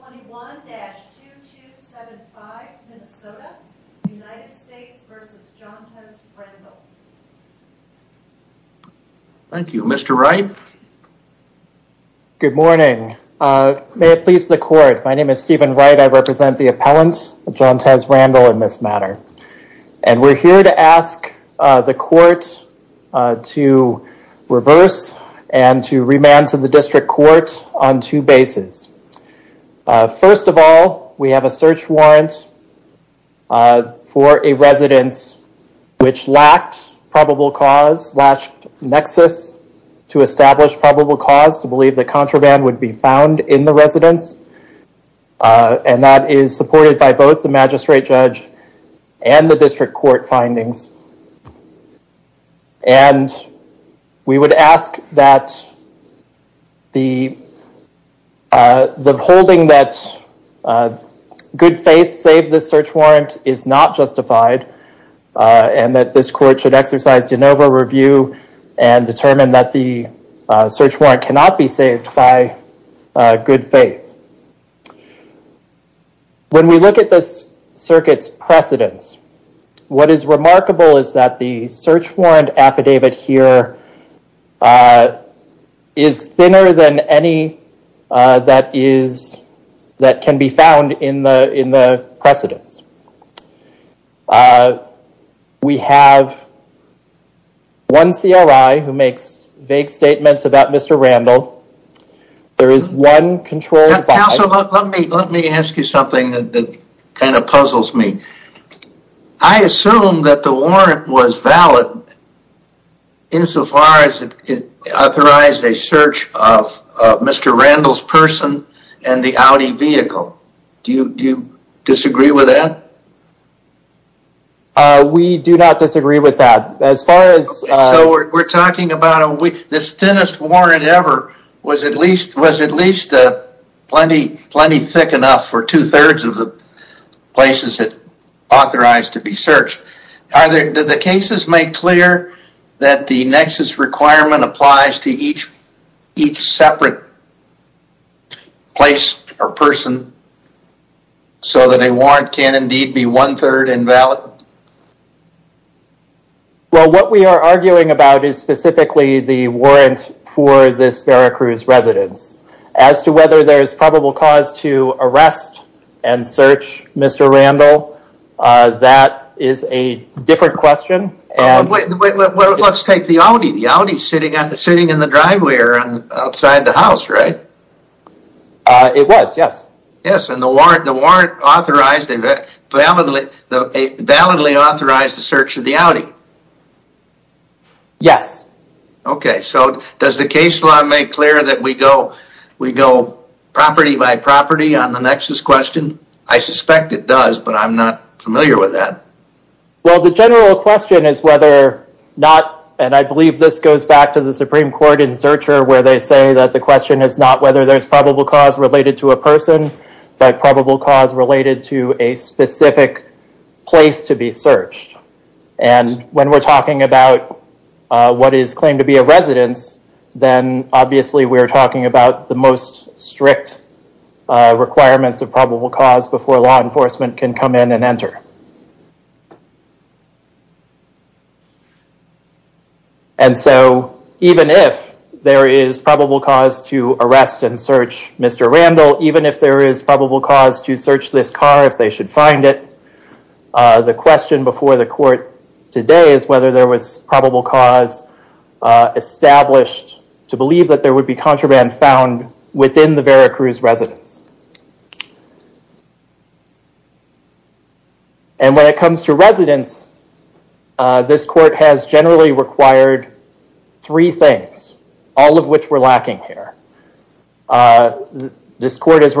21-2275 Minnesota United States v. Johntez Randle Thank you. Mr. Wright. Good morning. May it please the court. My name is Stephen Wright. I represent the appellant Johntez Randle in this matter. And we're here to ask the court to reverse and to remand to the district court on two bases. First of all, we have a search warrant for a residence which lacked probable cause, latched nexus to establish probable cause to believe the contraband would be found in the residence. And that is supported by both the magistrate judge and the district court findings. And we would ask that the holding that good faith saved the search warrant is not justified and that this court should exercise de novo review and determine that the search warrant cannot be saved by good faith. When we look at this circuit's precedence, what is remarkable is that the search warrant affidavit here is thinner than any that can be found in the precedence. We have one CLI who makes vague statements about Mr. Randle. There is one controlled by- Counsel, let me ask you something that kind of puzzles me. I assume that the warrant was valid insofar as it authorized a search of Mr. Randle's person and the Audi vehicle. Do you disagree with that? We do not disagree with that. So we're talking about this thinnest warrant ever was at least plenty thick enough for two-thirds of the places it authorized to be searched. Do the cases make clear that the nexus requirement applies to each separate place or person so that a warrant can indeed be one-third invalid? Well, what we are arguing about is specifically the warrant for this Veracruz residence. As to whether there is probable cause to arrest and search Mr. Randle, that is a different question. Well, let's take the Audi. The Audi's sitting in the driveway or outside the house, right? It was, yes. Yes, and the warrant authorized, validly authorized the search of the Audi. Yes. Okay, so does the case law make clear that we go property by property on the nexus question? I suspect it does, but I'm not familiar with that. Well, the general question is whether or not, and I believe this goes back to the Supreme Court in Zurcher where they say that the question is not whether there's probable cause related to a person, but probable cause related to a specific place to be searched. And when we're talking about what is claimed to be a residence, then obviously we're talking about the most strict requirements of probable cause before law enforcement can come in and enter. And so even if there is probable cause to arrest and search Mr. Randle, even if there is probable cause to search this car, if they should find it, the question before the court today is whether there was probable cause established to believe that there would be contraband found within the Veracruz residence. And when it comes to residence, this court has generally required three things, all of which we're lacking here. This court has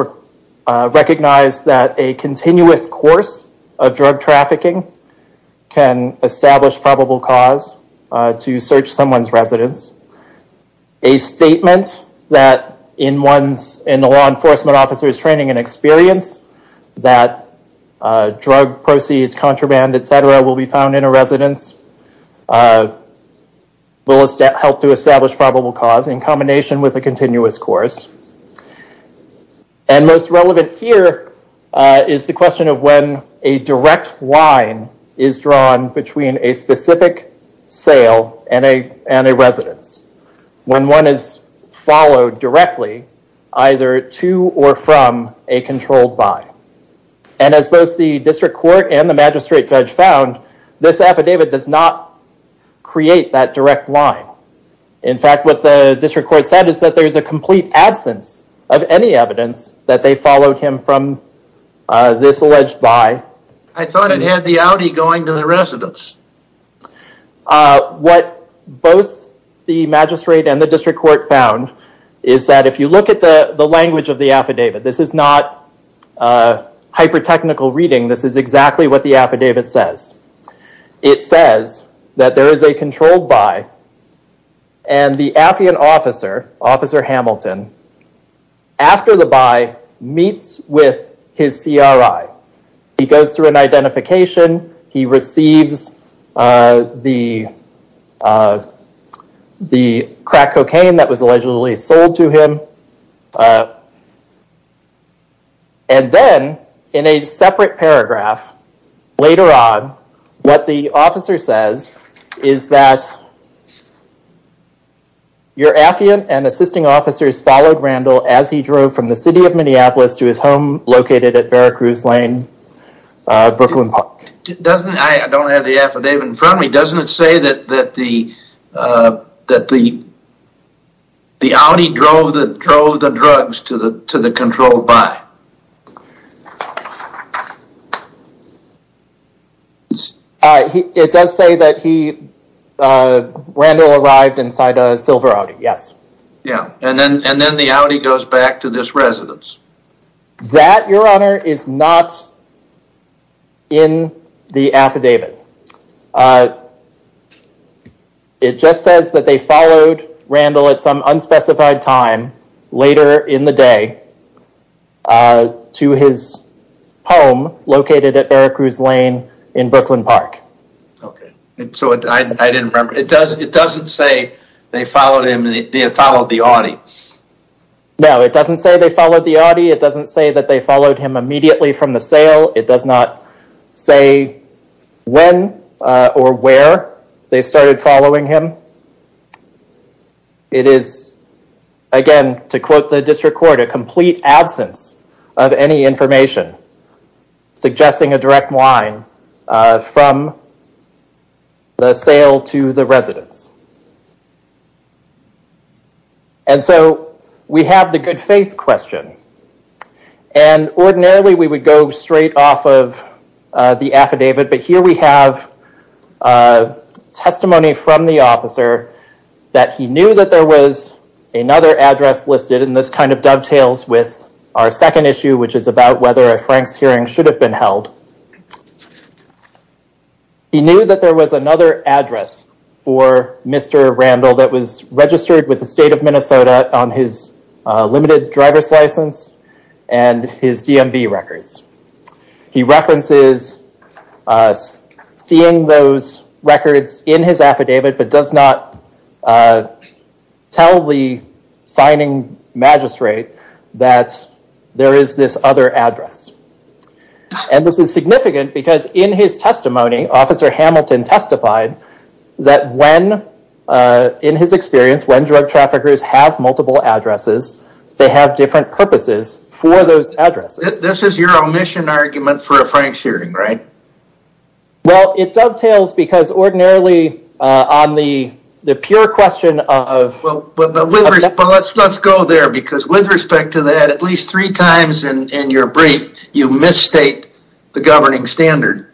recognized that a continuous course of drug trafficking can establish probable cause to search someone's residence. A statement that in the law enforcement officer's training and experience that drug proceeds, contraband, etc. will be found in a residence will help to establish probable cause in combination with a continuous course. And most relevant here is the question of when a direct line is drawn between a specific sale and a residence, when one is followed directly either to or from a controlled buy. And as both the district court and the magistrate judge found, this affidavit does not create that direct line. In fact, what the district court said is that there is a complete absence of any evidence that they followed him from this alleged buy. I thought it had the Audi going to the residence. What both the magistrate and the district court found is that if you look at the language of the affidavit, this is not hyper-technical reading. This is exactly what the affidavit says. It says that there is a controlled buy and the Affian officer, Officer Hamilton, after the buy meets with his CRI He goes through an identification. He receives the crack cocaine that was allegedly sold to him. And then in a separate paragraph later on, what the officer says is that your Affian and assisting officers followed Randall as he drove from the city of Minneapolis to his home located at Veracruz Lane, Brooklyn Park. I don't have the affidavit in front of me. Doesn't it say that the Audi drove the drugs to the controlled buy? It does say that Randall arrived inside a silver Audi, yes. And then the Audi goes back to this residence. That, your honor, is not in the affidavit. It just says that they followed Randall at some unspecified time later in the day to his home located at Veracruz Lane in Brooklyn Park. It doesn't say they followed the Audi. No, it doesn't say they followed the Audi. It doesn't say that they followed him immediately from the sale. It does not say when or where they started following him. It is, again, to quote the district court, a complete absence of any information suggesting a direct line from the sale to the residence. And so we have the good faith question. And ordinarily we would go straight off of the affidavit, but here we have testimony from the officer that he knew that there was another address listed, and this kind of dovetails with our second issue, which is about whether a Franks hearing should have been held. He knew that there was another address for Mr. Randall that was registered with the state of Minnesota on his limited driver's license and his DMV records. He references seeing those records in his affidavit but does not tell the signing magistrate that there is this other address. And this is significant because in his testimony, Officer Hamilton testified that when, in his experience, when drug traffickers have multiple addresses, they have different purposes for those addresses. This is your omission argument for a Franks hearing, right? Well, it dovetails because ordinarily on the pure question of... But let's go there because with respect to that, at least three times in your brief, you misstate the governing standard.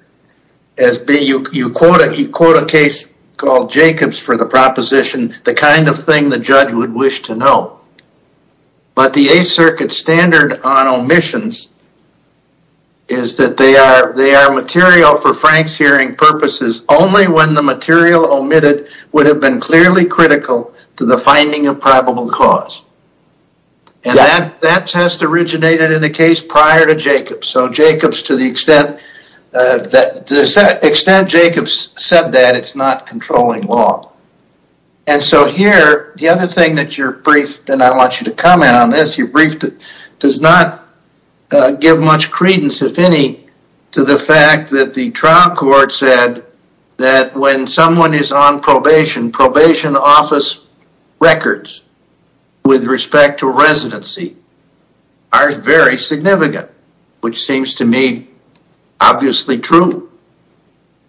You quote a case called Jacobs for the proposition, the kind of thing the judge would wish to know. But the Eighth Circuit standard on omissions is that they are material for Franks hearing purposes only when the material omitted would have been clearly critical to the finding of probable cause. And that test originated in a case prior to Jacobs. So Jacobs, to the extent that Jacobs said that, it's not controlling law. And so here, the other thing that your brief, and I want you to comment on this, your brief does not give much credence, if any, to the fact that the trial court said that when someone is on probation, probation office records with respect to residency are very significant, which seems to me obviously true.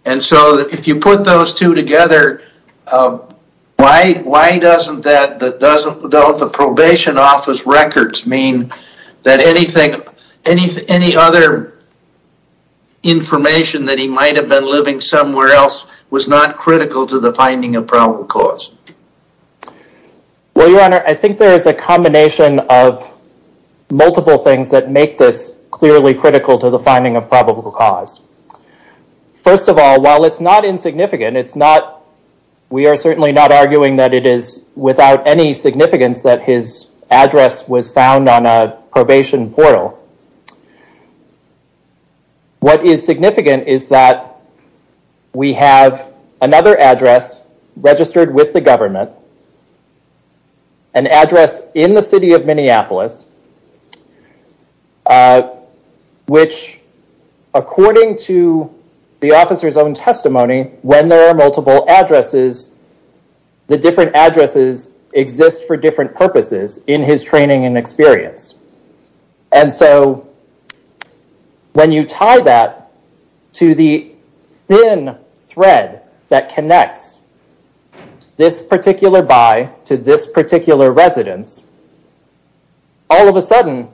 And so if you put those two together, why doesn't the probation office records mean that any other information that he might have been living somewhere else was not critical to the finding of probable cause? Well, Your Honor, I think there is a combination of multiple things that make this clearly critical to the finding of probable cause. First of all, while it's not insignificant, we are certainly not arguing that it is without any significance that his address was found on a probation portal. What is significant is that we have another address registered with the government, an address in the city of Minneapolis, which, according to the officer's own testimony, when there are multiple addresses, the different addresses exist for different purposes in his training and experience. And so when you tie that to the thin thread that connects this particular buy to this particular residence, all of a sudden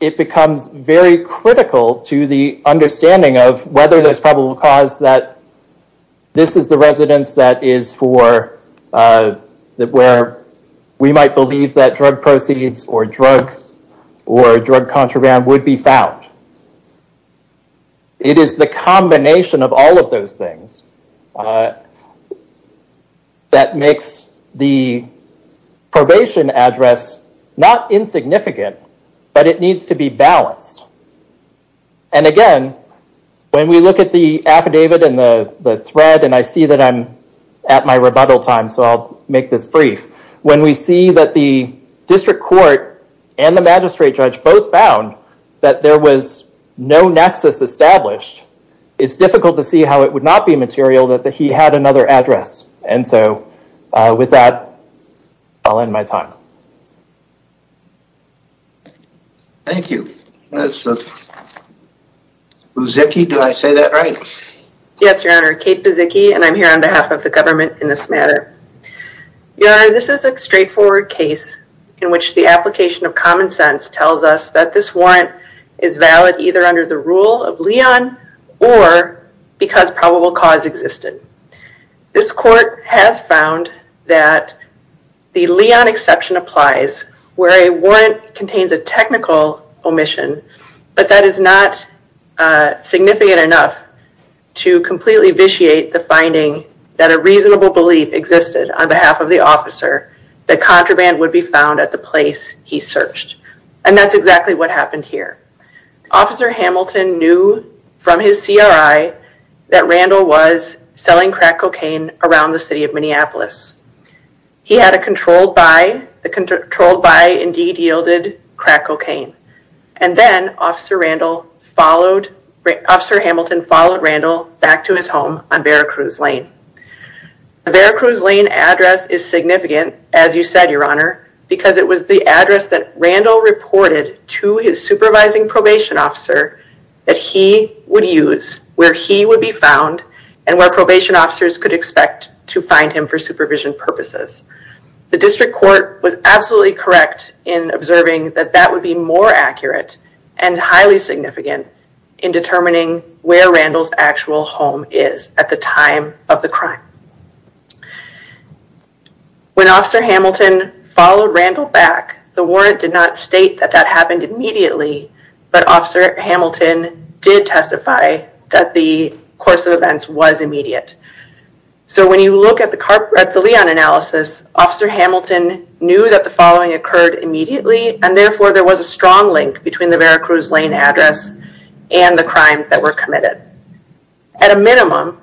it becomes very critical to the understanding of whether there's probable cause that this is the residence that is for, where we might believe that drug proceeds or drug contraband would be found. It is the combination of all of those things that makes the probation address not insignificant, but it needs to be balanced. And again, when we look at the affidavit and the thread, and I see that I'm at my rebuttal time, so I'll make this brief. When we see that the district court and the magistrate judge both found that there was no nexus established, it's difficult to see how it would not be material that he had another address. And so with that, I'll end my time. Thank you. Buzicki, did I say that right? Yes, Your Honor, Kate Buzicki, and I'm here on behalf of the government in this matter. Your Honor, this is a straightforward case in which the application of common sense tells us that this warrant is valid either under the rule of Leon or because probable cause existed. This court has found that the Leon exception applies where a warrant contains a technical omission, but that is not significant enough to completely vitiate the finding that a reasonable belief existed on behalf of the officer that contraband would be found at the place he searched, and that's exactly what happened here. Officer Hamilton knew from his CRI that Randall was selling crack cocaine around the city of Minneapolis. He had a controlled buy. The controlled buy indeed yielded crack cocaine, and then Officer Hamilton followed Randall back to his home on Veracruz Lane. The Veracruz Lane address is significant, as you said, Your Honor, because it was the address that Randall reported to his supervising probation officer that he would use where he would be found and where probation officers could expect to find him for supervision purposes. The district court was absolutely correct in observing that that would be more accurate and highly significant in determining where Randall's actual home is at the time of the crime. When Officer Hamilton followed Randall back, the warrant did not state that that happened immediately, but Officer Hamilton did testify that the course of events was immediate. So when you look at the Leon analysis, Officer Hamilton knew that the following occurred immediately, and therefore there was a strong link between the Veracruz Lane address and the crimes that were committed. At a minimum,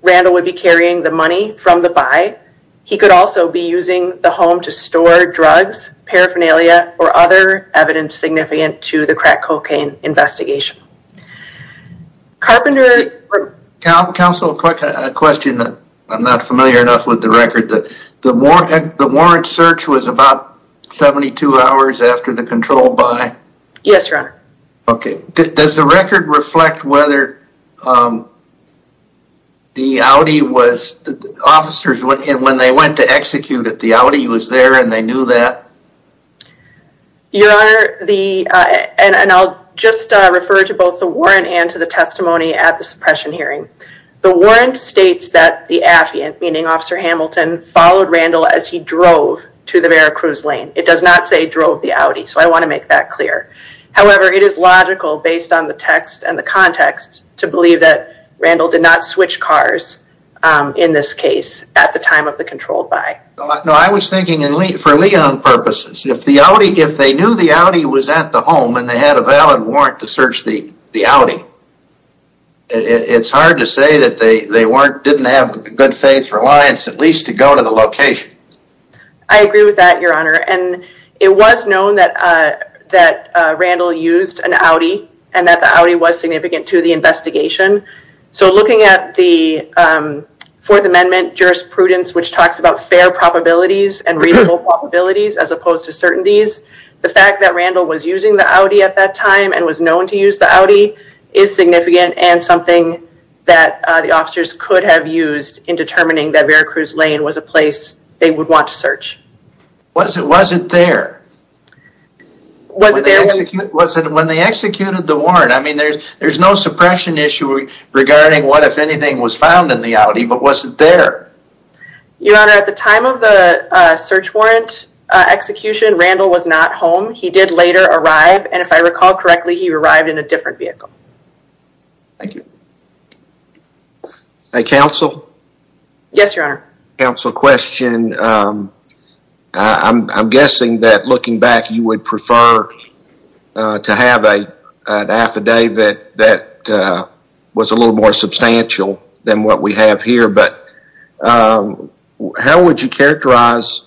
Randall would be carrying the money from the buy. He could also be using the home to store drugs, paraphernalia, or other evidence significant to the crack cocaine investigation. Carpenter... Counsel, a quick question. I'm not familiar enough with the record. The warrant search was about 72 hours after the control buy. Yes, Your Honor. Okay. Does the record reflect whether the Audi was... Officers, when they went to execute it, the Audi was there and they knew that? Your Honor, the... And I'll just refer to both the warrant and to the testimony at the suppression hearing. The warrant states that the affiant, meaning Officer Hamilton, followed Randall as he drove to the Veracruz Lane. It does not say drove the Audi, so I want to make that clear. However, it is logical, based on the text and the context, to believe that Randall did not switch cars in this case at the time of the controlled buy. No, I was thinking for Leon purposes, if they knew the Audi was at the home and they had a valid warrant to search the Audi, it's hard to say that they didn't have good faith reliance at least to go to the location. I agree with that, Your Honor. And it was known that Randall used an Audi and that the Audi was significant to the investigation. So looking at the Fourth Amendment jurisprudence, which talks about fair probabilities and reasonable probabilities as opposed to certainties, the fact that Randall was using the Audi at that time and was known to use the Audi is significant and something that the officers could have used in determining that Veracruz Lane was a place they would want to search. Was it there? Was it there? When they executed the warrant, I mean, there's no suppression issue regarding what, if anything, was found in the Audi, but was it there? Your Honor, at the time of the search warrant execution, Randall was not home. He did later arrive, and if I recall correctly, he arrived in a different vehicle. Thank you. Counsel? Yes, Your Honor. Counsel, question. I'm guessing that looking back, you would prefer to have an affidavit that was a little more substantial than what we have here, but how would you characterize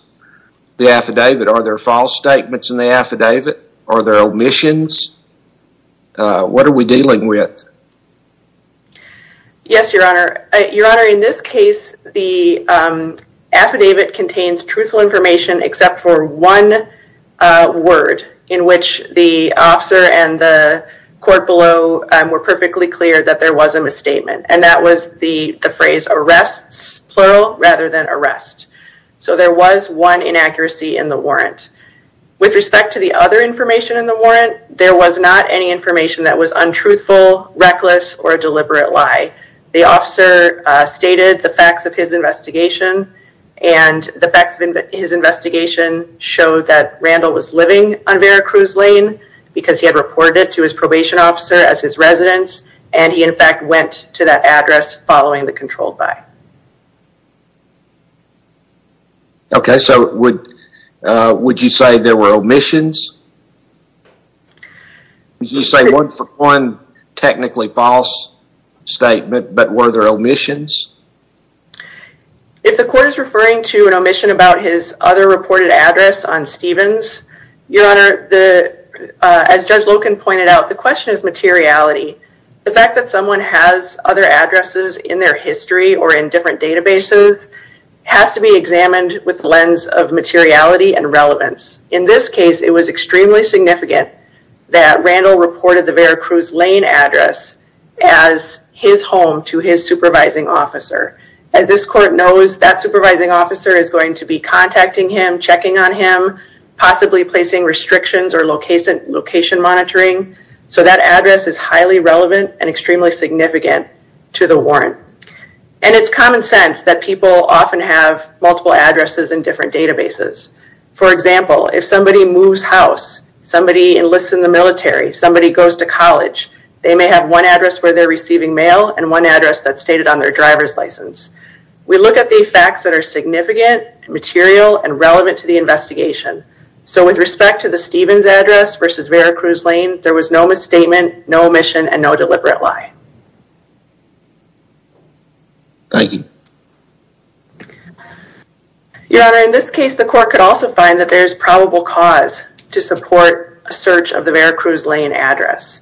the affidavit? Are there false statements in the affidavit? Are there omissions? What are we dealing with? Yes, Your Honor. Your Honor, in this case, the affidavit contains truthful information except for one word in which the officer and the court below were perfectly clear that there was a misstatement, and that was the phrase arrests, plural, rather than arrest. So there was one inaccuracy in the warrant. With respect to the other information in the warrant, there was not any information that was untruthful, reckless, or a deliberate lie. The officer stated the facts of his investigation, and the facts of his investigation showed that Randall was living on Vera Cruz Lane because he had reported to his probation officer as his residence, and he, in fact, went to that address following the controlled by. Okay, so would you say there were omissions? Would you say one technically false statement, but were there omissions? If the court is referring to an omission about his other reported address on Stevens, Your Honor, as Judge Loken pointed out, the question is materiality. The fact that someone has other addresses in their history or in different databases has to be examined with the lens of materiality and relevance. In this case, it was extremely significant that Randall reported the Vera Cruz Lane address as his home to his supervising officer. As this court knows, that supervising officer is going to be contacting him, checking on him, possibly placing restrictions or location monitoring, so that address is highly relevant and extremely significant to the warrant. And it's common sense that people often have multiple addresses in different databases. For example, if somebody moves house, somebody enlists in the military, somebody goes to college, they may have one address where they're receiving mail and one address that's stated on their driver's license. We look at the facts that are significant, material, and relevant to the investigation. So with respect to the Stevens address versus Vera Cruz Lane, there was no misstatement, no omission, and no deliberate lie. Thank you. Your Honor, in this case, the court could also find that there's probable cause to support a search of the Vera Cruz Lane address.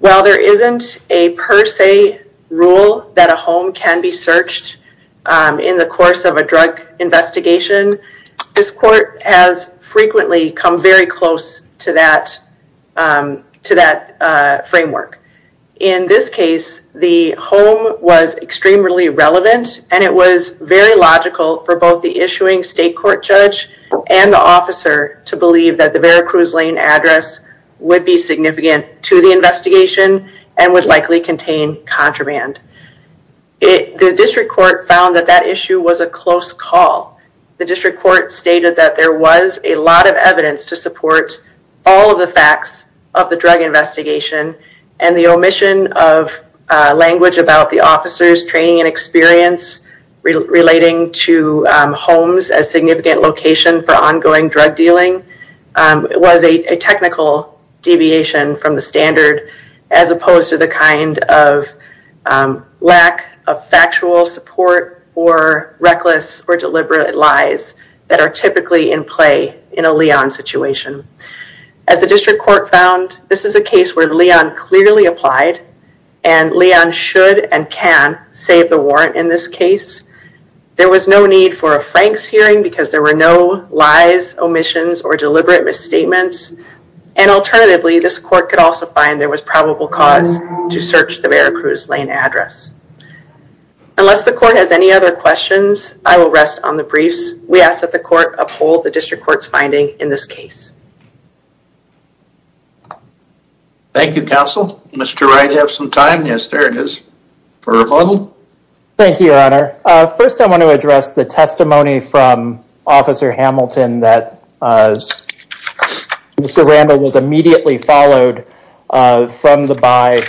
While there isn't a per se rule that a home can be searched in the course of a drug investigation, this court has frequently come very close to that framework. In this case, the home was extremely relevant and it was very logical for both the issuing state court judge and the officer to believe that the Vera Cruz Lane address would be significant to the investigation and would likely contain contraband. The district court found that that issue was a close call. The district court stated that there was a lot of evidence to support all of the facts of the drug investigation and the omission of language about the officer's training and experience relating to homes as significant location for ongoing drug dealing was a technical deviation from the standard as opposed to the kind of lack of factual support or reckless or deliberate lies that are typically in play in a Leon situation. As the district court found, this is a case where Leon clearly applied and Leon should and can save the warrant in this case. There was no need for a Franks hearing because there were no lies, omissions, or deliberate misstatements. And alternatively, this court could also find there was probable cause to search the Vera Cruz Lane address. Unless the court has any other questions, I will rest on the briefs. We ask that the court uphold the district court's finding in this case. Thank you, counsel. Mr. Wright, you have some time. Yes, there it is. Thank you, your honor. First, I want to address the testimony from Officer Hamilton that Mr. Rambo was immediately followed from the by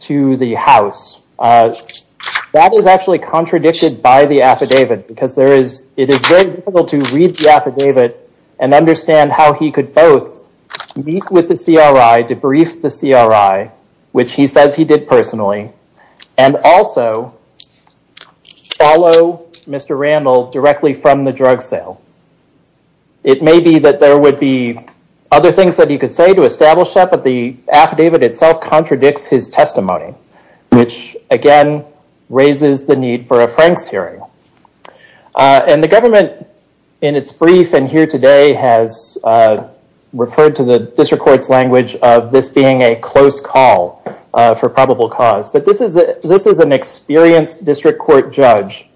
to the house. That is actually contradicted by the affidavit because it is very difficult to read the affidavit and understand how he could both meet with the CRI, debrief the CRI, which he says he did personally, and also follow Mr. Randall directly from the drug sale. It may be that there would be other things that he could say to establish that, but the affidavit itself contradicts his testimony, which, again, raises the need for a Franks hearing. The government, in its brief and here today, has referred to the district court's language of this being a close call for probable cause, but this is an experienced district court judge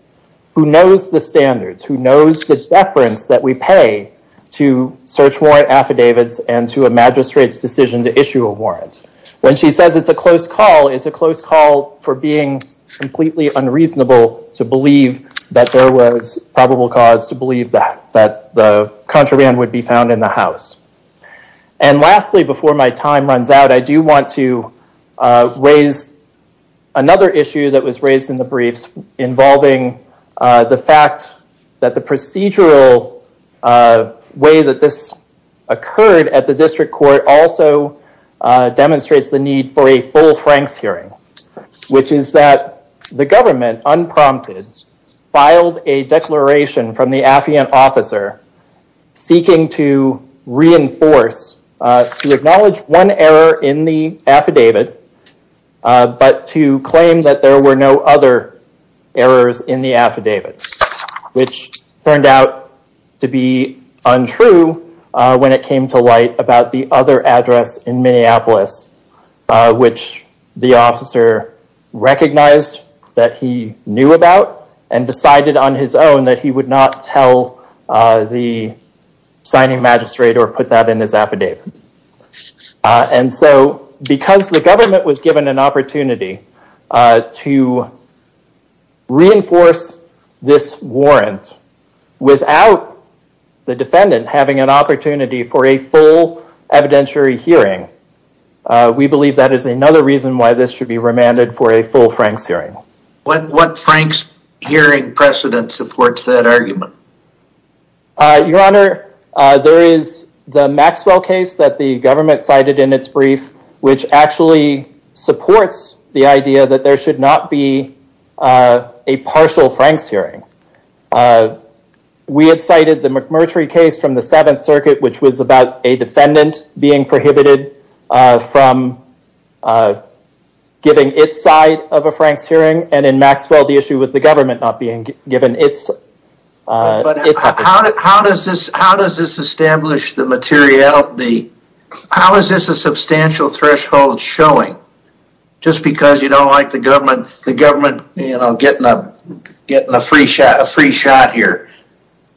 who knows the standards, who knows the deference that we pay to search warrant affidavits and to a magistrate's decision to issue a warrant. When she says it's a close call, it's a close call for being completely unreasonable to believe that there was probable cause to believe that the contraband would be found in the house. Lastly, before my time runs out, I do want to raise another issue that was raised in the briefs involving the fact that the procedural way that this occurred at the district court also demonstrates the need for a full Franks hearing, which is that the government, unprompted, filed a declaration from the affiant officer seeking to reinforce, to acknowledge one error in the affidavit, but to claim that there were no other errors in the affidavit, which turned out to be untrue when it came to light about the other address in Minneapolis, which the officer recognized that he knew about and decided on his own that he would not tell the signing magistrate or put that in his affidavit. And so, because the government was given an opportunity to reinforce this warrant without the defendant having an opportunity for a full evidentiary hearing, we believe that is another reason why this should be remanded for a full Franks hearing. What Franks hearing precedent supports that argument? Your Honor, there is the Maxwell case that the government cited in its brief, which actually supports the idea that there should not be a partial Franks hearing. We had cited the McMurtry case from the Seventh Circuit, which was about a defendant being prohibited from giving its side of a Franks hearing, and in Maxwell, the issue was the government not being given its side. But how does this establish the materiality? How is this a substantial threshold showing? Just because you don't like the government getting a free shot here.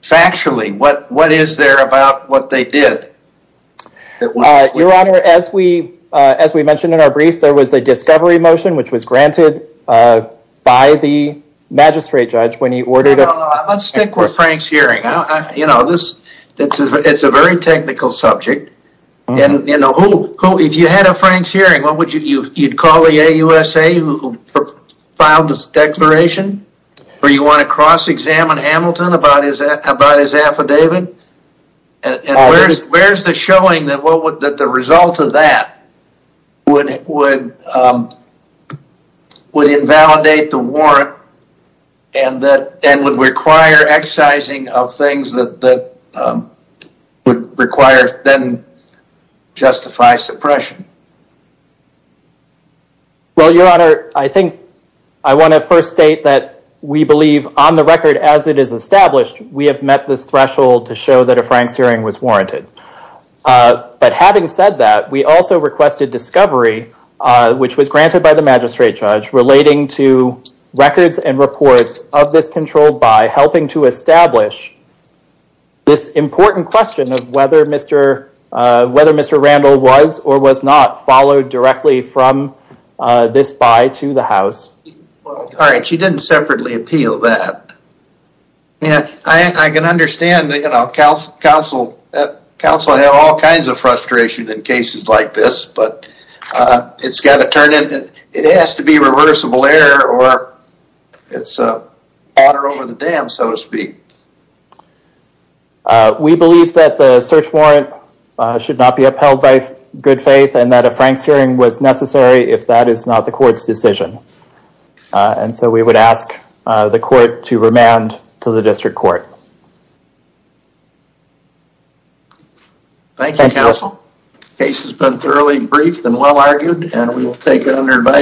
Factually, what is there about what they did? Your Honor, as we mentioned in our brief, there was a discovery motion, which was granted by the magistrate judge when he ordered... Let's stick with Franks hearing. It's a very technical subject. If you had a Franks hearing, you'd call the AUSA who filed this declaration? Or you want to cross-examine Hamilton about his affidavit? Where's the showing that the result of that would invalidate the warrant and would require excising of things that would then justify suppression? Your Honor, I want to first state that we believe, on the record, as it is established, we have met this threshold to show that a Franks hearing was warranted. But having said that, we also requested discovery, which was granted by the magistrate judge, relating to records and reports of this controlled buy, helping to establish this important question of whether Mr. Randall was or was not followed directly from this buy to the House. She didn't separately appeal that. I can understand counsel have all kinds of frustration in cases like this, but it has to be reversible error or it's water over the dam, so to speak. We believe that the search warrant should not be upheld by good faith and that a Franks hearing was necessary if that is not the court's decision. And so we would ask the court to remand to the district court. Thank you, counsel. The case has been thoroughly briefed and well-argued, and we will take it under advice.